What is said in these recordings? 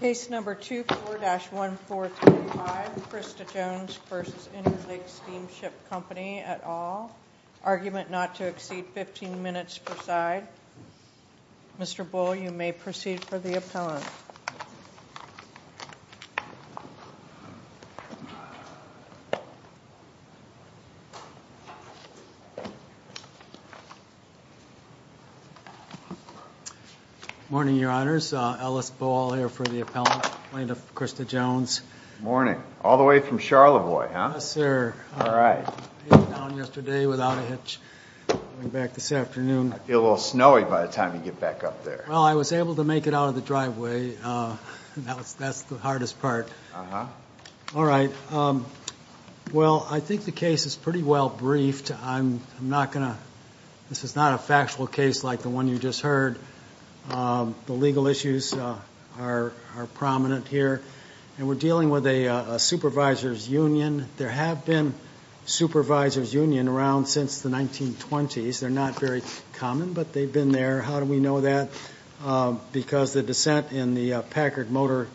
Case No. 24-1435 Krista Jones v. Interlake Steamship Company et al. Argument not to exceed 15 minutes per side. Mr. Bull, you may proceed for the appellant. Morning, Your Honors. Ellis Bull here for the appellant, plaintiff Krista Jones. Morning. All the way from Charlevoix, huh? Yes, sir. All right. I came down yesterday without a hitch. I'm coming back this afternoon. I feel a little snowy by the time you get back up there. Well, I was able to make it out of the driveway. That's the hardest part. Uh-huh. All right. Well, I think the case is pretty well briefed. I'm not going to – this is not a factual case like the one you just heard. The legal issues are prominent here, and we're dealing with a supervisor's union. There have been supervisors' unions around since the 1920s. They're not very common, but they've been there. How do we know that? Because the dissent in the Packard Motor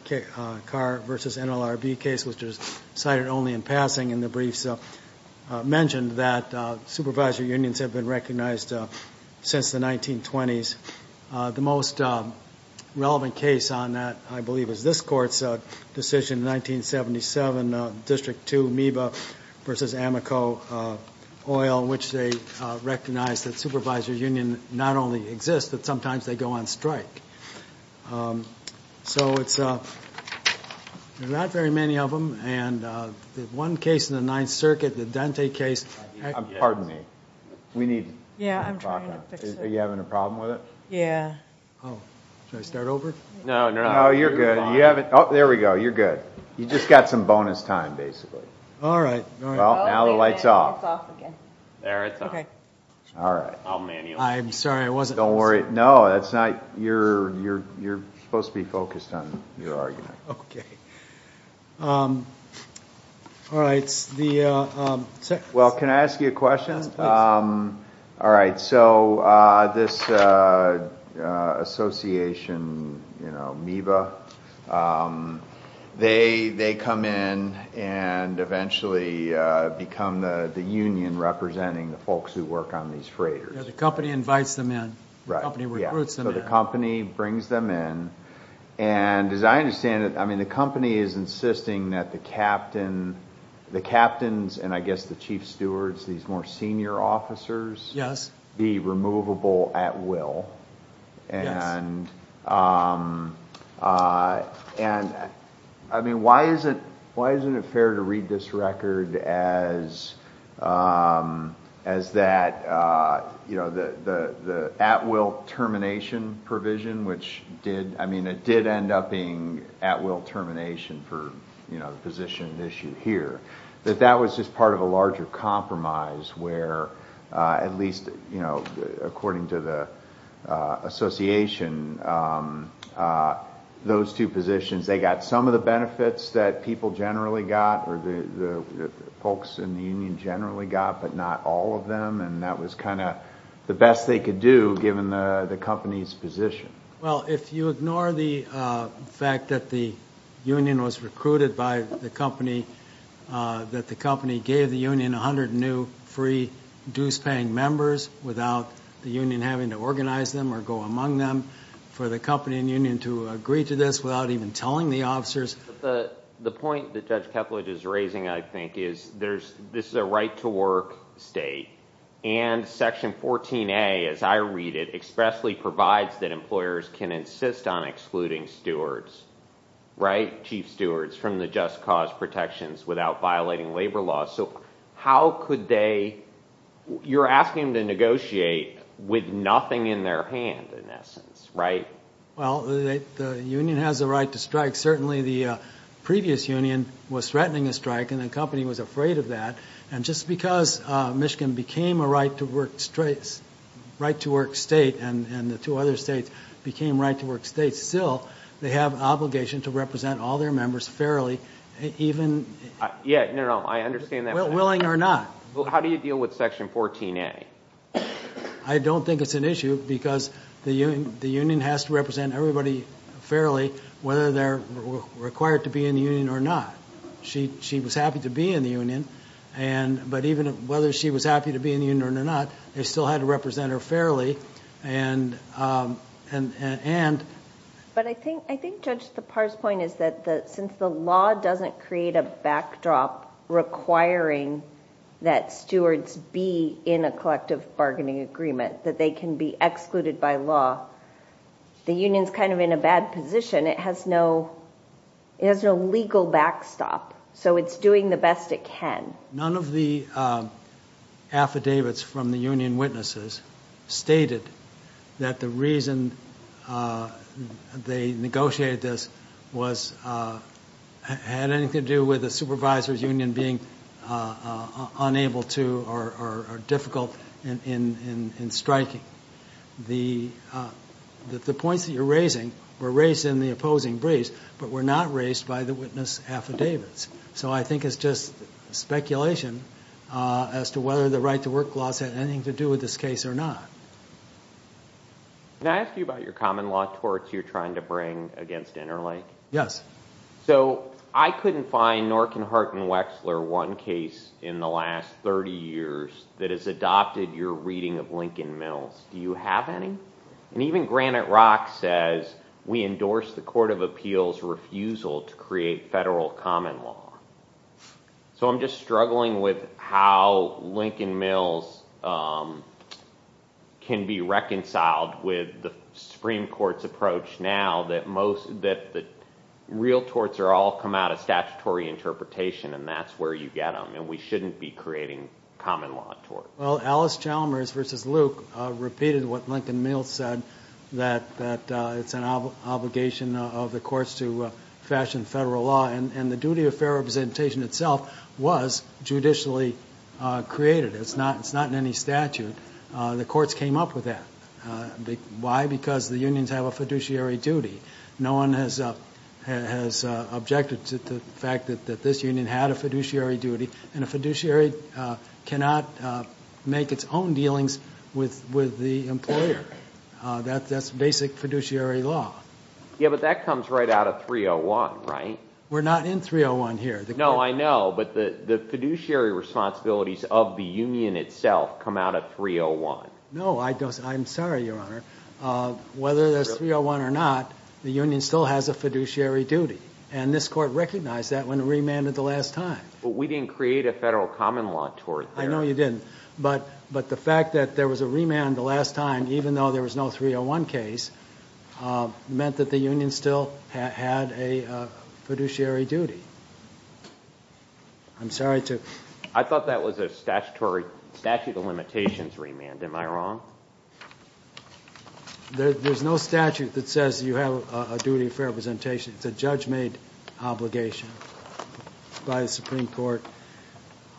Car v. NLRB case, which was cited only in passing in the briefs, mentioned that supervisor unions have been recognized since the 1920s. The most relevant case on that, I believe, is this Court's decision in 1977, District 2, Amoeba v. Amoco Oil, in which they recognized that supervisor unions not only exist, but sometimes they go on strike. So it's – there are not very many of them. And the one case in the Ninth Circuit, the Dante case – Pardon me. We need – Yeah, I'm trying to fix it. Are you having a problem with it? Yeah. Oh. Should I start over? No, no, no. You're fine. Oh, you're good. You haven't – oh, there we go. You're good. You just got some bonus time, basically. All right. Well, now the light's off. There it's on. Okay. All right. I'll manual it. I'm sorry. I wasn't – Don't worry. No, that's not – you're supposed to be focused on your argument. Okay. All right. It's the – Well, can I ask you a question? Yes, please. All right. So this association, you know, MIBA, they come in and eventually become the union representing the folks who work on these freighters. Yeah, the company invites them in. Right. The company recruits them in. So the company brings them in. And as I understand it, I mean, the company is insisting that the captain – and I guess the chief stewards, these more senior officers –– be removable at will. Yes. And, I mean, why isn't it fair to read this record as that, you know, the at-will termination provision, which did – that that was just part of a larger compromise where at least, you know, according to the association, those two positions, they got some of the benefits that people generally got or the folks in the union generally got, but not all of them. And that was kind of the best they could do given the company's position. Well, if you ignore the fact that the union was recruited by the company, that the company gave the union 100 new free dues-paying members without the union having to organize them or go among them, for the company and union to agree to this without even telling the officers. The point that Judge Kepledge is raising, I think, is there's – this is a right-to-work state. And Section 14A, as I read it, expressly provides that employers can insist on excluding stewards, right, chief stewards, from the just cause protections without violating labor laws. So how could they – you're asking them to negotiate with nothing in their hand, in essence, right? Well, the union has a right to strike. Certainly, the previous union was threatening a strike, and the company was afraid of that. And just because Michigan became a right-to-work state and the two other states became right-to-work states, still they have an obligation to represent all their members fairly, even – Yeah, no, no, I understand that. Willing or not. How do you deal with Section 14A? I don't think it's an issue because the union has to represent everybody fairly whether they're required to be in the union or not. She was happy to be in the union. But even whether she was happy to be in the union or not, they still had to represent her fairly. But I think, Judge, the parse point is that since the law doesn't create a backdrop requiring that stewards be in a collective bargaining agreement, that they can be excluded by law, the union's kind of in a bad position. It has no legal backstop. So it's doing the best it can. None of the affidavits from the union witnesses stated that the reason they negotiated this had anything to do with a supervisor's union being unable to or difficult in striking. The points that you're raising were raised in the opposing briefs, but were not raised by the witness affidavits. So I think it's just speculation as to whether the right-to-work laws had anything to do with this case or not. Can I ask you about your common law torts you're trying to bring against Interlake? Yes. So I couldn't find, nor can Hart and Wexler, one case in the last 30 years that has adopted your reading of Lincoln Mills. Do you have any? And even Granite Rock says, we endorse the Court of Appeals' refusal to create federal common law. So I'm just struggling with how Lincoln Mills can be reconciled with the Supreme Court's approach now that real torts all come out of statutory interpretation, and that's where you get them, and we shouldn't be creating common law torts. Well, Alice Chalmers v. Luke repeated what Lincoln Mills said, that it's an obligation of the courts to fashion federal law, and the duty of fair representation itself was judicially created. It's not in any statute. The courts came up with that. Why? Because the unions have a fiduciary duty. No one has objected to the fact that this union had a fiduciary duty, and a fiduciary cannot make its own dealings with the employer. That's basic fiduciary law. Yeah, but that comes right out of 301, right? We're not in 301 here. No, I know, but the fiduciary responsibilities of the union itself come out of 301. No, I'm sorry, Your Honor. Whether there's 301 or not, the union still has a fiduciary duty, and this Court recognized that when it remanded the last time. But we didn't create a federal common law tort there. I know you didn't, but the fact that there was a remand the last time, even though there was no 301 case, meant that the union still had a fiduciary duty. I'm sorry to— I thought that was a statute of limitations remand. Am I wrong? There's no statute that says you have a duty of fair representation. It's a judge-made obligation by the Supreme Court.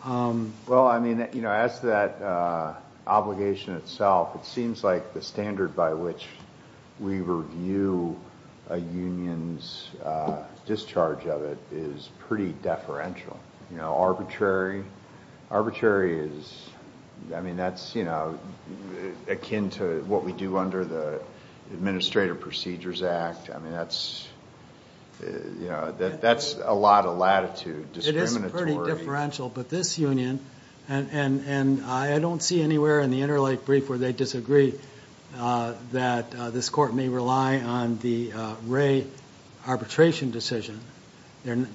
Well, I mean, as to that obligation itself, it seems like the standard by which we review a union's discharge of it is pretty deferential, you know, arbitrary. Arbitrary is, I mean, that's, you know, akin to what we do under the Administrative Procedures Act. I mean, that's, you know, that's a lot of latitude, discriminatory. It is pretty differential, but this union, and I don't see anywhere in the Interlake brief where they disagree that this Court may rely on the Wray arbitration decision. The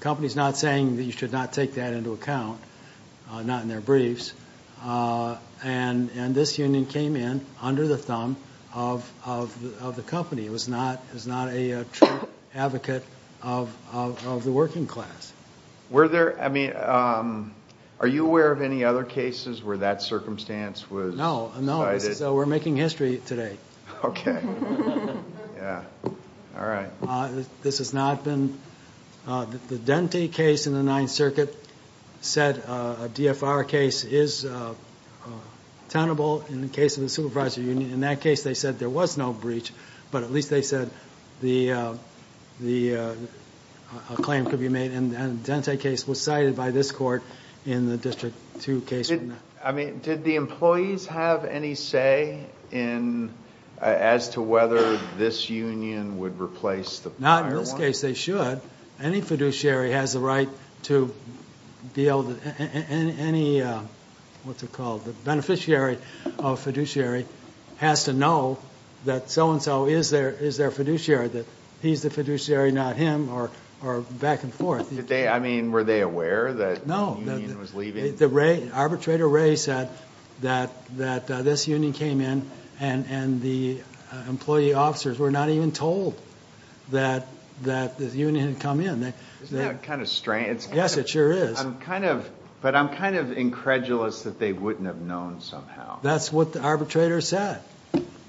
company's not saying that you should not take that into account, not in their briefs. And this union came in under the thumb of the company. It was not a true advocate of the working class. Were there—I mean, are you aware of any other cases where that circumstance was cited? No, no. We're making history today. Okay. Yeah. All right. This has not been... The Dente case in the Ninth Circuit said a DFR case is tenable in the case of the supervisor union. In that case, they said there was no breach, but at least they said the claim could be made. And the Dente case was cited by this Court in the District 2 case. I mean, did the employees have any say in... Not in this case, they should. Any fiduciary has the right to be able to... Any—what's it called? The beneficiary of fiduciary has to know that so-and-so is their fiduciary, that he's the fiduciary, not him, or back and forth. Did they—I mean, were they aware that the union was leaving? No. Arbitrator Wray said that this union came in and the employee officers were not even told that the union had come in. Isn't that kind of strange? Yes, it sure is. I'm kind of—but I'm kind of incredulous that they wouldn't have known somehow. That's what the arbitrator said.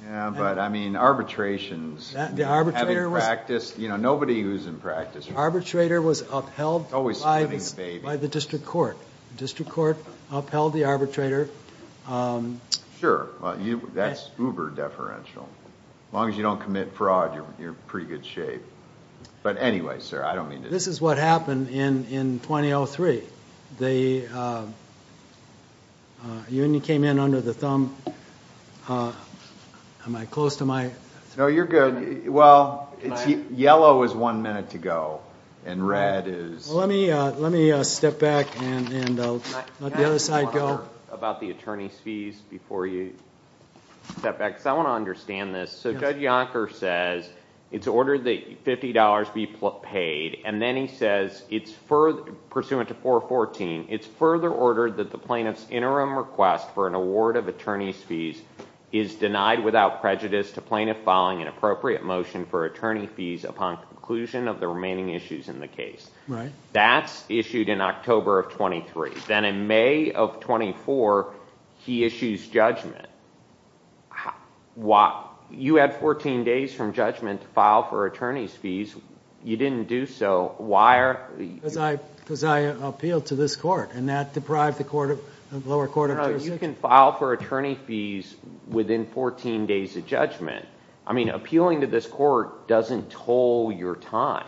Yeah, but, I mean, arbitrations. The arbitrator was... Having practiced—you know, nobody who's in practice... Arbitrator was upheld... Always spitting the baby.... by the district court. The district court upheld the arbitrator. Sure. That's uber-deferential. As long as you don't commit fraud, you're in pretty good shape. But anyway, sir, I don't mean to... This is what happened in 2003. The union came in under the thumb... Am I close to my... No, you're good. Well, yellow is one minute to go, and red is... Let me step back and let the other side go. Let me talk about the attorney's fees before you step back, because I want to understand this. So, Judge Yonker says it's ordered that $50 be paid, and then he says, pursuant to 414, it's further ordered that the plaintiff's interim request for an award of attorney's fees is denied without prejudice to plaintiff filing an appropriate motion for attorney fees upon conclusion of the remaining issues in the case. Right. That's issued in October of 2003. Then in May of 2004, he issues judgment. You had 14 days from judgment to file for attorney's fees. You didn't do so. Why are... Because I appealed to this court, and that deprived the lower court of... No, you can file for attorney fees within 14 days of judgment. I mean, appealing to this court doesn't toll your time.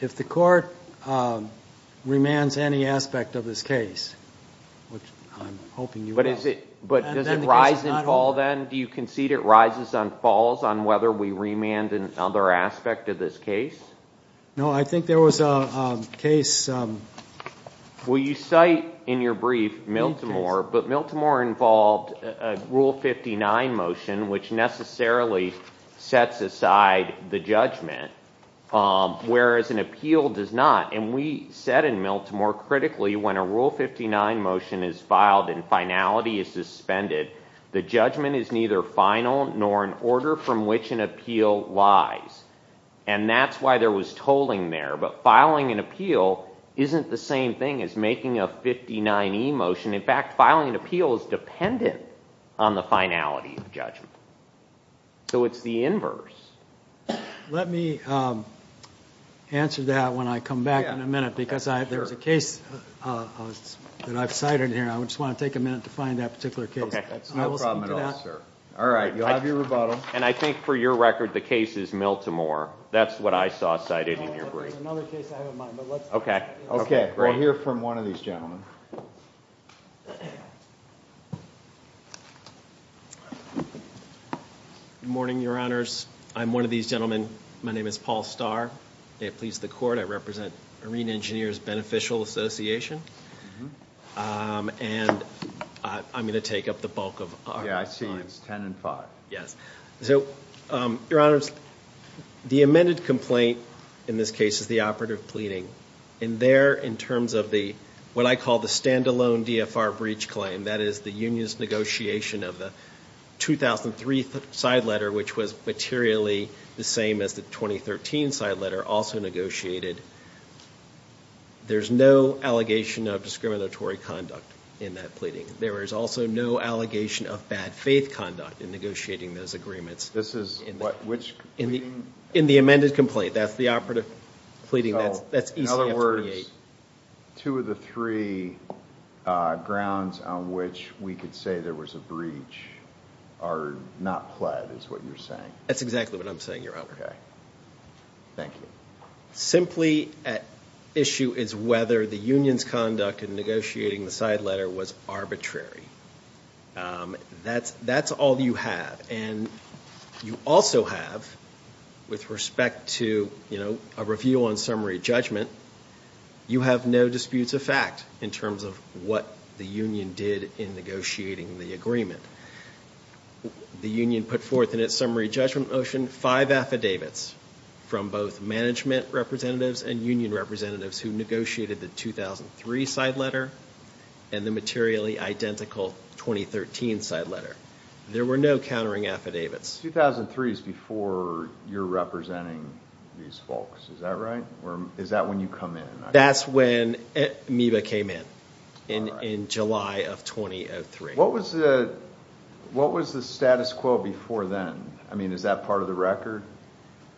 If the court remands any aspect of this case, which I'm hoping you will... But does it rise and fall then? Do you concede it rises and falls on whether we remand another aspect of this case? No, I think there was a case... Well, you cite in your brief, Miltimore, but Miltimore involved a Rule 59 motion, which necessarily sets aside the judgment, whereas an appeal does not. And we said in Miltimore, critically, when a Rule 59 motion is filed and finality is suspended, the judgment is neither final nor in order from which an appeal lies. And that's why there was tolling there. But filing an appeal isn't the same thing as making a 59E motion. In fact, filing an appeal is dependent on the finality of judgment. So it's the inverse. Let me answer that when I come back in a minute, because there's a case that I've cited here. I just want to take a minute to find that particular case. That's no problem at all, sir. All right, you'll have your rebuttal. And I think, for your record, the case is Miltimore. That's what I saw cited in your brief. There's another case I have in mind, but let's... Good morning, Your Honors. I'm one of these gentlemen. My name is Paul Starr. May it please the Court, I represent Arena Engineers Beneficial Association. And I'm going to take up the bulk of our time. Yeah, I see you. It's 10 and 5. Yes. So, Your Honors, the amended complaint in this case is the operative pleading. And there, in terms of the, what I call the stand-alone DFR breach claim, that is the union's negotiation of the 2003 side letter, which was materially the same as the 2013 side letter, also negotiated. There's no allegation of discriminatory conduct in that pleading. There is also no allegation of bad faith conduct in negotiating those agreements. This is what? Which pleading? In the amended complaint. That's the operative pleading. That's ECF-28. So, in other words, two of the three grounds on which we could say there was a breach are not pled, is what you're saying? That's exactly what I'm saying, Your Honor. Okay. Thank you. Simply at issue is whether the union's conduct in negotiating the side letter was arbitrary. That's all you have. And you also have, with respect to, you know, a review on summary judgment, you have no disputes of fact in terms of what the union did in negotiating the agreement. The union put forth in its summary judgment motion five affidavits from both management representatives and union representatives who negotiated the 2003 side letter and the materially identical 2013 side letter. There were no countering affidavits. 2003 is before you're representing these folks. Is that right? Is that when you come in? That's when Amoeba came in, in July of 2003. What was the status quo before then? I mean, is that part of the record?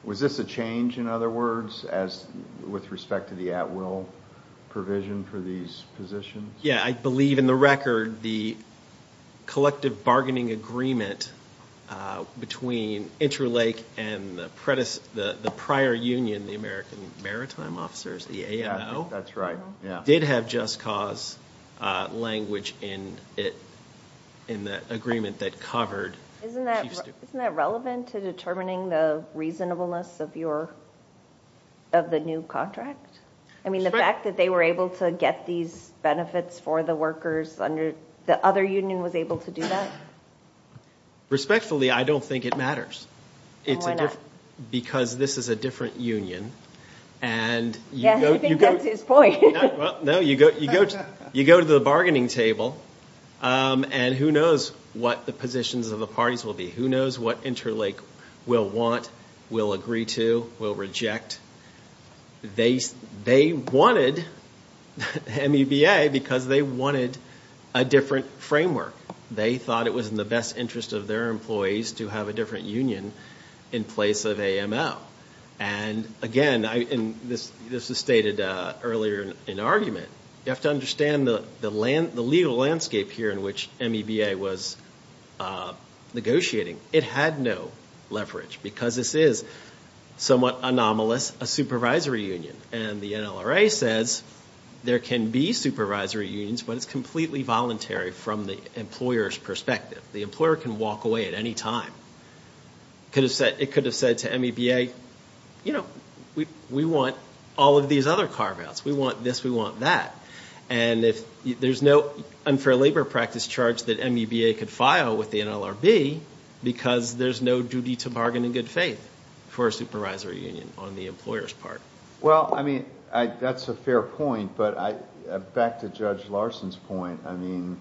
Was this a change, in other words, with respect to the at-will provision for these positions? Yeah. I believe in the record the collective bargaining agreement between Interlake and the prior union, the American Maritime Officers, the AMO, did have just cause language in it, in the agreement that covered Chief Stewart. Isn't that relevant to determining the reasonableness of the new contract? I mean, the fact that they were able to get these benefits for the workers under the other union was able to do that? Respectfully, I don't think it matters. Because this is a different union. Yes, I think that's his point. No, you go to the bargaining table, and who knows what the positions of the parties will be? Who knows what Interlake will want, will agree to, will reject? They wanted MEBA because they wanted a different framework. They thought it was in the best interest of their employees to have a different union in place of AMO. And, again, this was stated earlier in the argument, you have to understand the legal landscape here in which MEBA was negotiating. It had no leverage because this is somewhat anomalous, a supervisory union. And the NLRA says there can be supervisory unions, but it's completely voluntary from the employer's perspective. The employer can walk away at any time. It could have said to MEBA, you know, we want all of these other carve-outs. We want this, we want that. And there's no unfair labor practice charge that MEBA could file with the NLRB because there's no duty to bargain in good faith for a supervisory union on the employer's part. Well, I mean, that's a fair point, but back to Judge Larson's point, I mean,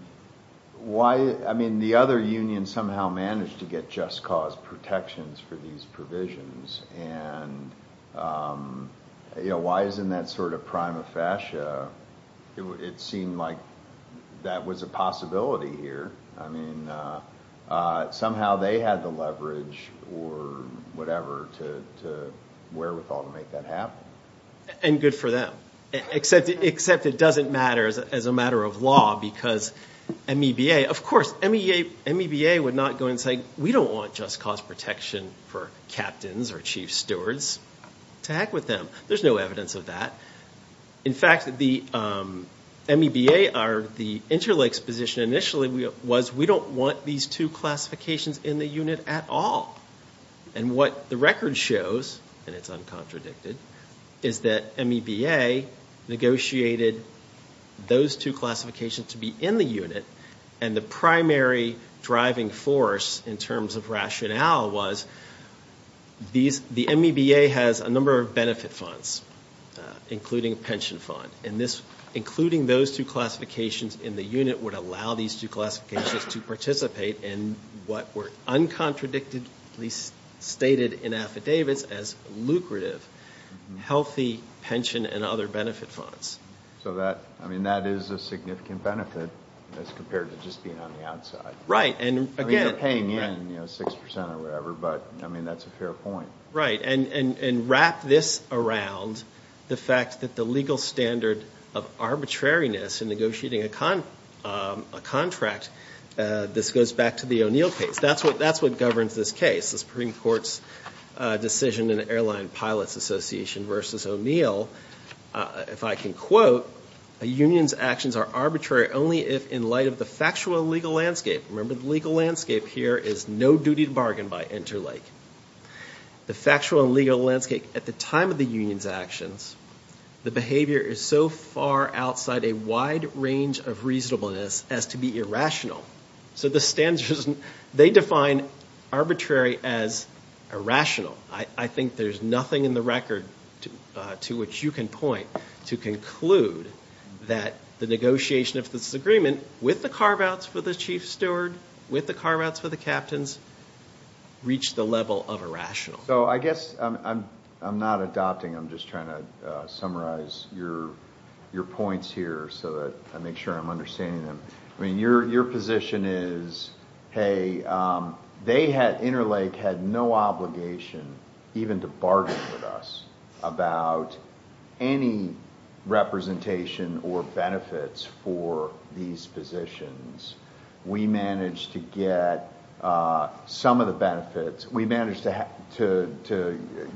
the other unions somehow managed to get just cause protections for these provisions. And, you know, why isn't that sort of prima facie? It seemed like that was a possibility here. I mean, somehow they had the leverage or whatever to wherewithal to make that happen. And good for them, except it doesn't matter as a matter of law because MEBA, of course, MEBA would not go and say, we don't want just cause protection for captains or chief stewards to act with them. There's no evidence of that. In fact, the MEBA or the interlakes position initially was we don't want these two classifications in the unit at all. And what the record shows, and it's uncontradicted, is that MEBA negotiated those two classifications to be in the unit. And the primary driving force in terms of rationale was the MEBA has a number of benefit funds, including a pension fund. And this, including those two classifications in the unit, would allow these two classifications to participate in what were uncontradicted, at least stated in affidavits as lucrative, healthy pension and other benefit funds. So that I mean, that is a significant benefit as compared to just being on the outside. Right. And again, paying in, you know, six percent or whatever. But I mean, that's a fair point. Right. And wrap this around the fact that the legal standard of arbitrariness in negotiating a contract, this goes back to the O'Neill case. That's what that's what governs this case. That's the Supreme Court's decision in the Airline Pilots Association versus O'Neill. If I can quote, a union's actions are arbitrary only if in light of the factual and legal landscape. Remember, the legal landscape here is no duty to bargain by interlake. The factual and legal landscape at the time of the union's actions, the behavior is so far outside a wide range of reasonableness as to be irrational. So the standards, they define arbitrary as irrational. I think there's nothing in the record to which you can point to conclude that the negotiation of this agreement with the carve-outs for the chief steward, with the carve-outs for the captains, reached the level of irrational. So I guess I'm not adopting, I'm just trying to summarize your points here so that I make sure I'm understanding them. Your position is, hey, Interlake had no obligation, even to bargain with us, about any representation or benefits for these positions. We managed to get some of the benefits. We managed to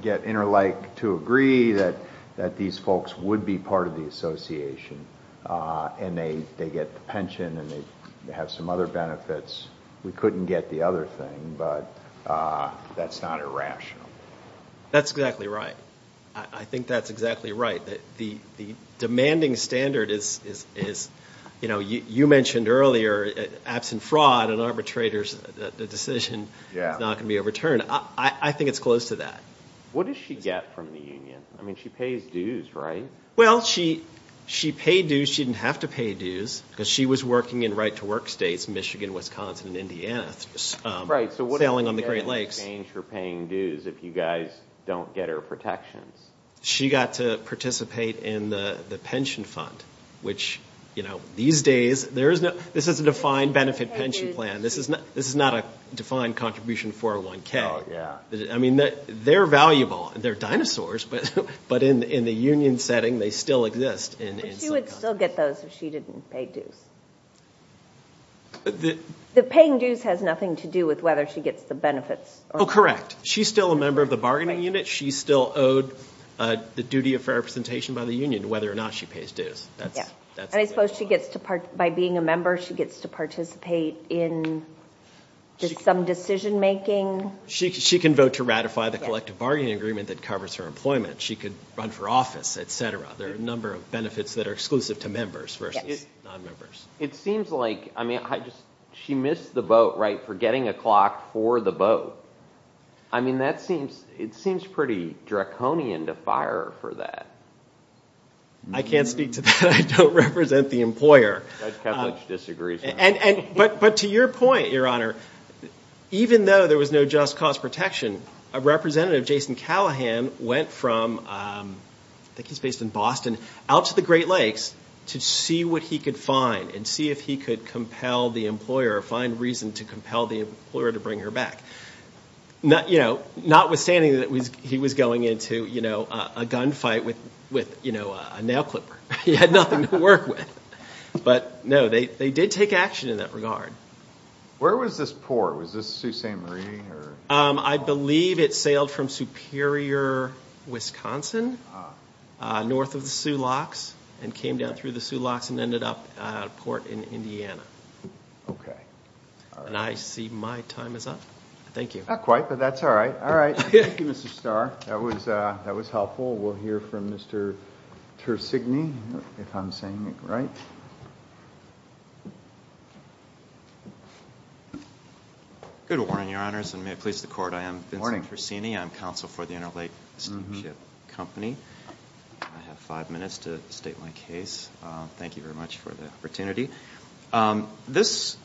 get Interlake to agree that these folks would be part of the association, and they get the pension and they have some other benefits. We couldn't get the other thing, but that's not irrational. That's exactly right. I think that's exactly right. The demanding standard is, you know, you mentioned earlier, absent fraud and arbitrators, the decision is not going to be overturned. I think it's close to that. What does she get from the union? I mean, she pays dues, right? Well, she paid dues. She didn't have to pay dues, because she was working in right-to-work states, Michigan, Wisconsin, and Indiana, sailing on the Great Lakes. Right, so what does she get in exchange for paying dues if you guys don't get her protections? She got to participate in the pension fund, which, you know, these days, there is no, this is a defined benefit pension plan. This is not a defined contribution 401k. Oh, yeah. I mean, they're valuable. They're dinosaurs, but in the union setting, they still exist. But she would still get those if she didn't pay dues. The paying dues has nothing to do with whether she gets the benefits. Oh, correct. She's still a member of the bargaining unit. She's still owed the duty of fair representation by the union, whether or not she pays dues. And I suppose she gets to, by being a member, she gets to participate in some decision-making? She can vote to ratify the collective bargaining agreement that covers her employment. She could run for office, et cetera. There are a number of benefits that are exclusive to members versus non-members. It seems like, I mean, she missed the boat, right, for getting a clock for the boat. I mean, that seems, it seems pretty draconian to fire her for that. I can't speak to that. I don't represent the employer. Judge Kavlich disagrees with that. But to your point, Your Honor, even though there was no just cause protection, a representative, Jason Callahan, went from, I think he's based in Boston, out to the Great Lakes to see what he could find and see if he could compel the employer or find reason to compel the employer to bring her back. Notwithstanding that he was going into a gunfight with a nail clipper. He had nothing to work with. But, no, they did take action in that regard. Where was this port? Was this Sault Ste. Marie? I believe it sailed from Superior, Wisconsin, north of the Sulox, and came down through the Sulox and ended up at a port in Indiana. Okay. And I see my time is up. Thank you. Not quite, but that's all right. All right. Thank you, Mr. Starr. That was helpful. We'll hear from Mr. Tersigni, if I'm saying it right. Good morning, Your Honors, and may it please the Court. I am Vincent Tersigni. I'm counsel for the Interlake Steamship Company. I have five minutes to state my case. Thank you very much for the opportunity. This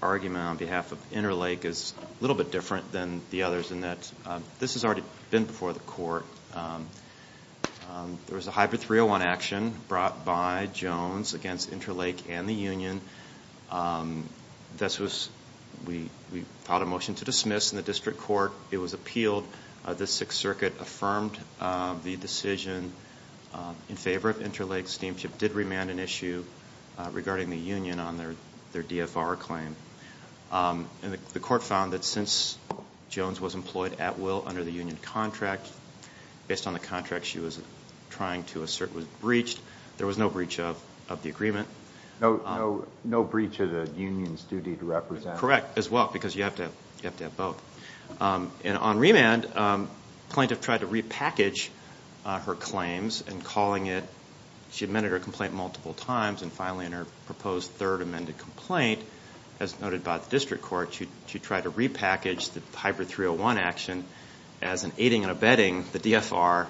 argument on behalf of Interlake is a little bit different than the others in that this has already been before the Court. There was a hybrid 301 action brought by Jones against Interlake and the union. We filed a motion to dismiss in the district court. It was appealed. The Sixth Circuit affirmed the decision in favor of Interlake Steamship did remand an issue regarding the union on their DFR claim. The Court found that since Jones was employed at will under the union contract, based on the contract she was trying to assert was breached, there was no breach of the agreement. No breach of the union's duty to represent. Correct, as well, because you have to have both. On remand, plaintiff tried to repackage her claims in calling it. She amended her complaint multiple times, and finally in her proposed third amended complaint, as noted by the district court, she tried to repackage the hybrid 301 action as an aiding and abetting the DFR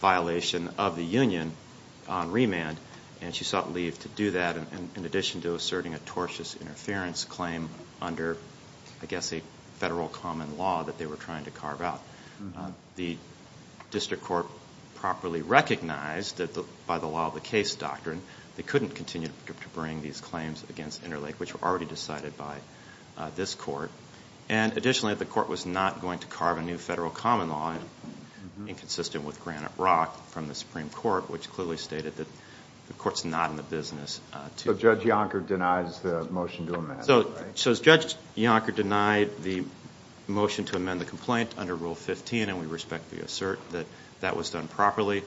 violation of the union on remand, and she sought leave to do that in addition to asserting a tortious interference claim under, I guess, a federal common law that they were trying to carve out. The district court properly recognized that by the law of the case doctrine they couldn't continue to bring these claims against Interlake, which were already decided by this court. Additionally, the court was not going to carve a new federal common law, inconsistent with Granite Rock from the Supreme Court, which clearly stated that the court's not in the business to do that. So Judge Yonker denies the motion to amend. So Judge Yonker denied the motion to amend the complaint under Rule 15, and we respectfully assert that that was done properly.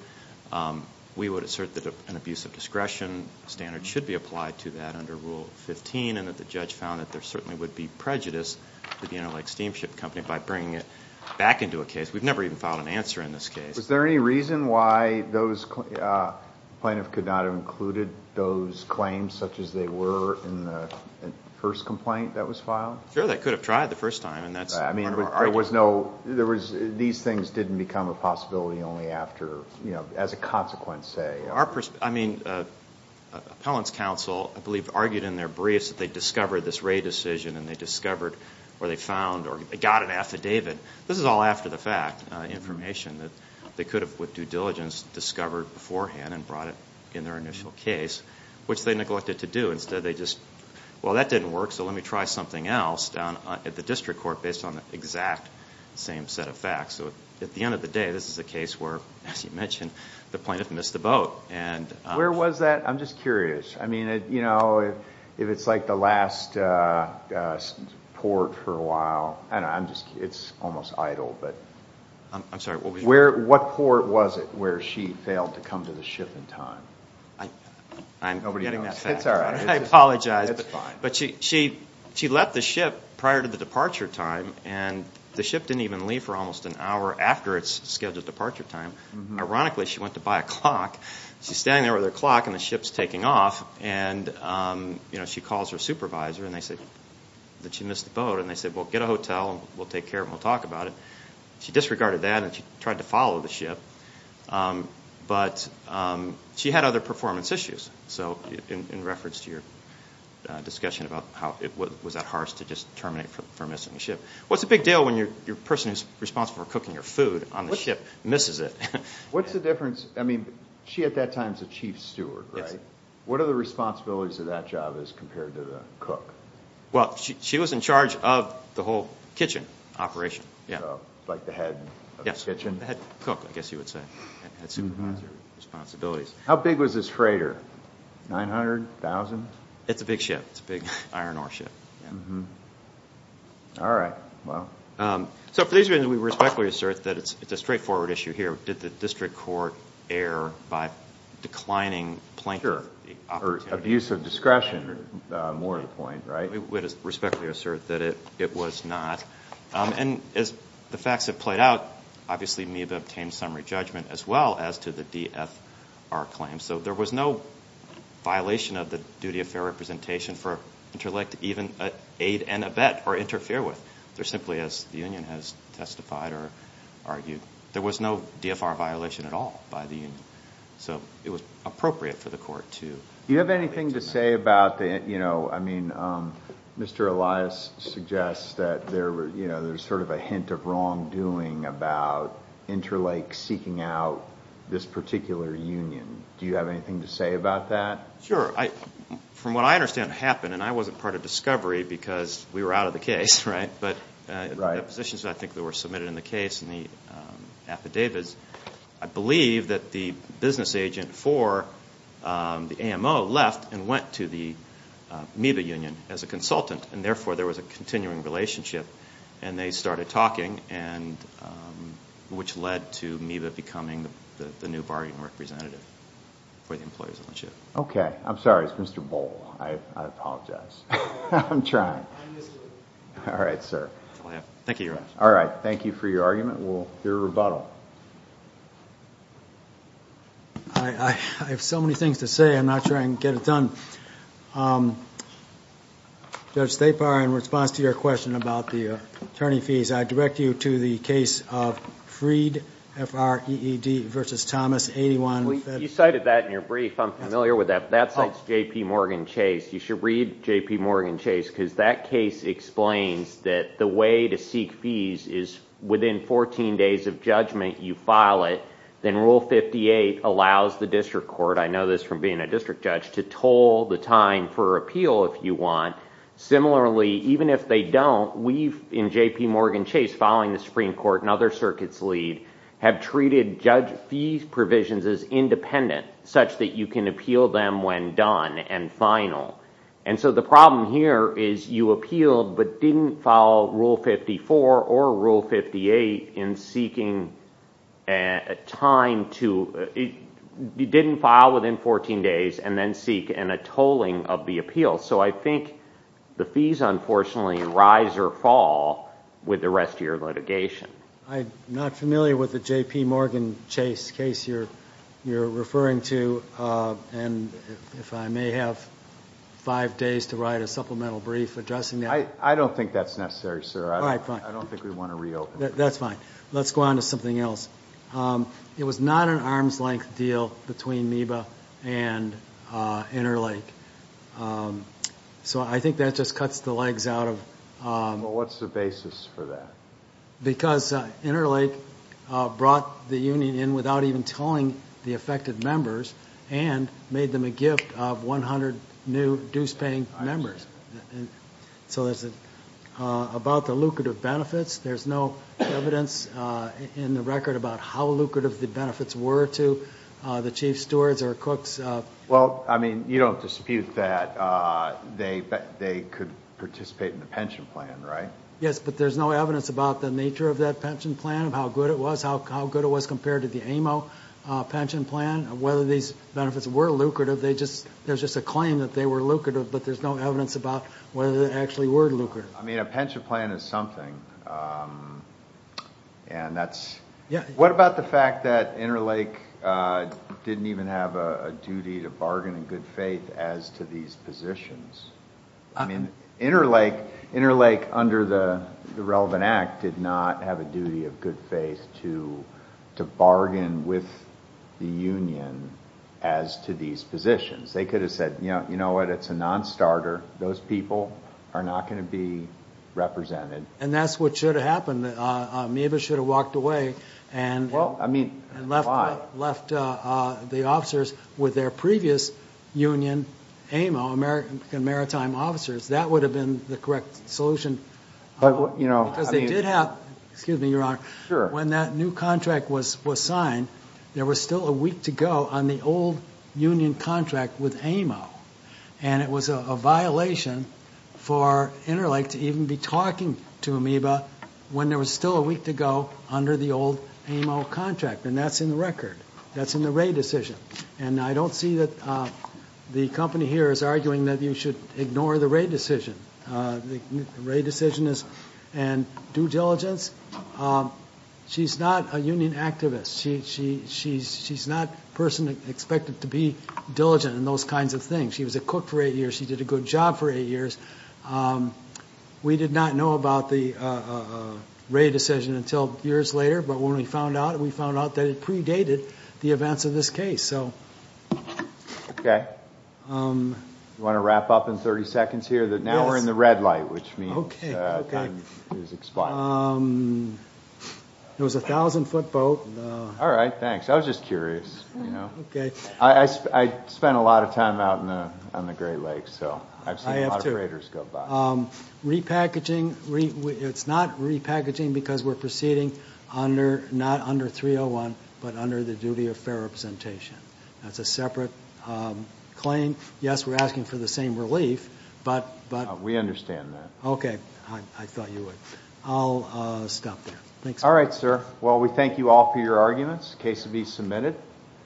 We would assert that an abuse of discretion standard should be applied to that under Rule 15 and that the judge found that there certainly would be prejudice to the Interlake Steamship Company by bringing it back into a case. We've never even filed an answer in this case. Was there any reason why the plaintiff could not have included those claims such as they were in the first complaint that was filed? Sure, they could have tried the first time. These things didn't become a possibility only as a consequence, say. Appellant's counsel, I believe, argued in their briefs that they discovered this raid decision and they discovered or they found or got an affidavit. This is all after the fact, information that they could have, with due diligence, discovered beforehand and brought it in their initial case, which they neglected to do. Instead, they just, well, that didn't work, so let me try something else, at the district court, based on the exact same set of facts. At the end of the day, this is a case where, as you mentioned, the plaintiff missed the boat. Where was that? I'm just curious. I mean, you know, if it's like the last port for a while, I don't know, it's almost idle. I'm sorry. What port was it where she failed to come to the ship in time? I'm forgetting that fact. I apologize. It's fine. But she left the ship prior to the departure time, and the ship didn't even leave for almost an hour after its scheduled departure time. Ironically, she went to buy a clock. She's standing there with her clock and the ship's taking off, and she calls her supervisor and they say that she missed the boat, and they say, well, get a hotel and we'll take care of it and we'll talk about it. She disregarded that and she tried to follow the ship, but she had other performance issues. So in reference to your discussion about was that harsh to just terminate her from missing the ship. Well, it's a big deal when your person who's responsible for cooking your food on the ship misses it. What's the difference? I mean, she at that time was a chief steward, right? What are the responsibilities of that job as compared to the cook? Well, she was in charge of the whole kitchen operation. Like the head of the kitchen? Yes, the head cook, I guess you would say, supervisor responsibilities. How big was this freighter, 900, 1,000? It's a big ship. It's a big iron ore ship. All right, well. So for these reasons, we respectfully assert that it's a straightforward issue here. Did the district court err by declining plaintiff the opportunity? Sure, or abuse of discretion, more the point, right? We would respectfully assert that it was not. And as the facts have played out, obviously Meeba obtained summary judgment as well as to the DFR claim. So there was no violation of the duty of fair representation for interleague to even aid and abet or interfere with. They're simply, as the union has testified or argued, there was no DFR violation at all by the union. So it was appropriate for the court to. Do you have anything to say about the, you know. Mr. Elias suggests that there's sort of a hint of wrongdoing about interleague seeking out this particular union. Do you have anything to say about that? Sure. From what I understand happened, and I wasn't part of discovery because we were out of the case, right? But the positions I think that were submitted in the case and the affidavits, I believe that the business agent for the AMO left and went to the Meeba union as a consultant, and therefore there was a continuing relationship, and they started talking, which led to Meeba becoming the new bargaining representative for the employer's ownership. Okay. I'm sorry. It's Mr. Bohl. I apologize. I'm trying. All right, sir. Thank you very much. All right. Thank you for your argument. We'll hear a rebuttal. I have so many things to say. I'm not sure I can get it done. Judge Thapar, in response to your question about the attorney fees, I direct you to the case of Freed, F-R-E-E-D v. Thomas, 81. You cited that in your brief. I'm familiar with that. That cites J.P. Morgan Chase. You should read J.P. Morgan Chase because that case explains that the way to seek fees is within 14 days of judgment, you file it, then Rule 58 allows the district court, I know this from being a district judge, to toll the time for appeal if you want. Similarly, even if they don't, we, in J.P. Morgan Chase, following the Supreme Court and other circuits lead, have treated judge fees provisions as independent such that you can appeal them when done and final. And so the problem here is you appealed but didn't file Rule 54 or Rule 58 in seeking a time to, you didn't file within 14 days and then seek a tolling of the appeal. So I think the fees, unfortunately, rise or fall with the rest of your litigation. I'm not familiar with the J.P. Morgan Chase case you're referring to. And if I may have five days to write a supplemental brief addressing that. I don't think that's necessary, sir. All right, fine. I don't think we want to reopen. That's fine. Let's go on to something else. It was not an arm's length deal between MEBA and Interlake. So I think that just cuts the legs out of. Well, what's the basis for that? Because Interlake brought the union in without even tolling the affected members and made them a gift of 100 new dues-paying members. So about the lucrative benefits, there's no evidence in the record about how lucrative the benefits were to the chief stewards or cooks. Well, I mean, you don't dispute that they could participate in the pension plan, right? Yes, but there's no evidence about the nature of that pension plan, how good it was, how good it was compared to the AMO pension plan, whether these benefits were lucrative. There's just a claim that they were lucrative, but there's no evidence about whether they actually were lucrative. I mean, a pension plan is something. What about the fact that Interlake didn't even have a duty to bargain in good faith as to these positions? I mean, Interlake, under the relevant act, did not have a duty of good faith to bargain with the union as to these positions. They could have said, you know what, it's a non-starter. Those people are not going to be represented. And that's what should have happened. Amoeba should have walked away and left the officers with their previous union, AMO, American Maritime Officers. That would have been the correct solution. Because they did have, excuse me, Your Honor, when that new contract was signed, there was still a week to go on the old union contract with AMO. And it was a violation for Interlake to even be talking to Amoeba when there was still a week to go under the old AMO contract. And that's in the record. That's in the Wray decision. And I don't see that the company here is arguing that you should ignore the Wray decision. The Wray decision is in due diligence. She's not a union activist. She's not a person expected to be diligent in those kinds of things. She was a cook for eight years. She did a good job for eight years. We did not know about the Wray decision until years later. But when we found out, we found out that it predated the events of this case. Okay. Do you want to wrap up in 30 seconds here? Yes. Now we're in the red light, which means time is expired. It was a 1,000-foot boat. All right. Thanks. I was just curious. Okay. I spent a lot of time out on the Great Lakes, so I've seen a lot of craters go by. I have, too. Repackaging. It's not repackaging because we're proceeding not under 301, but under the duty of fair representation. That's a separate claim. Yes, we're asking for the same relief. We understand that. Okay. I thought you would. I'll stop there. Thanks. All right, sir. Well, we thank you all for your arguments. The case will be submitted.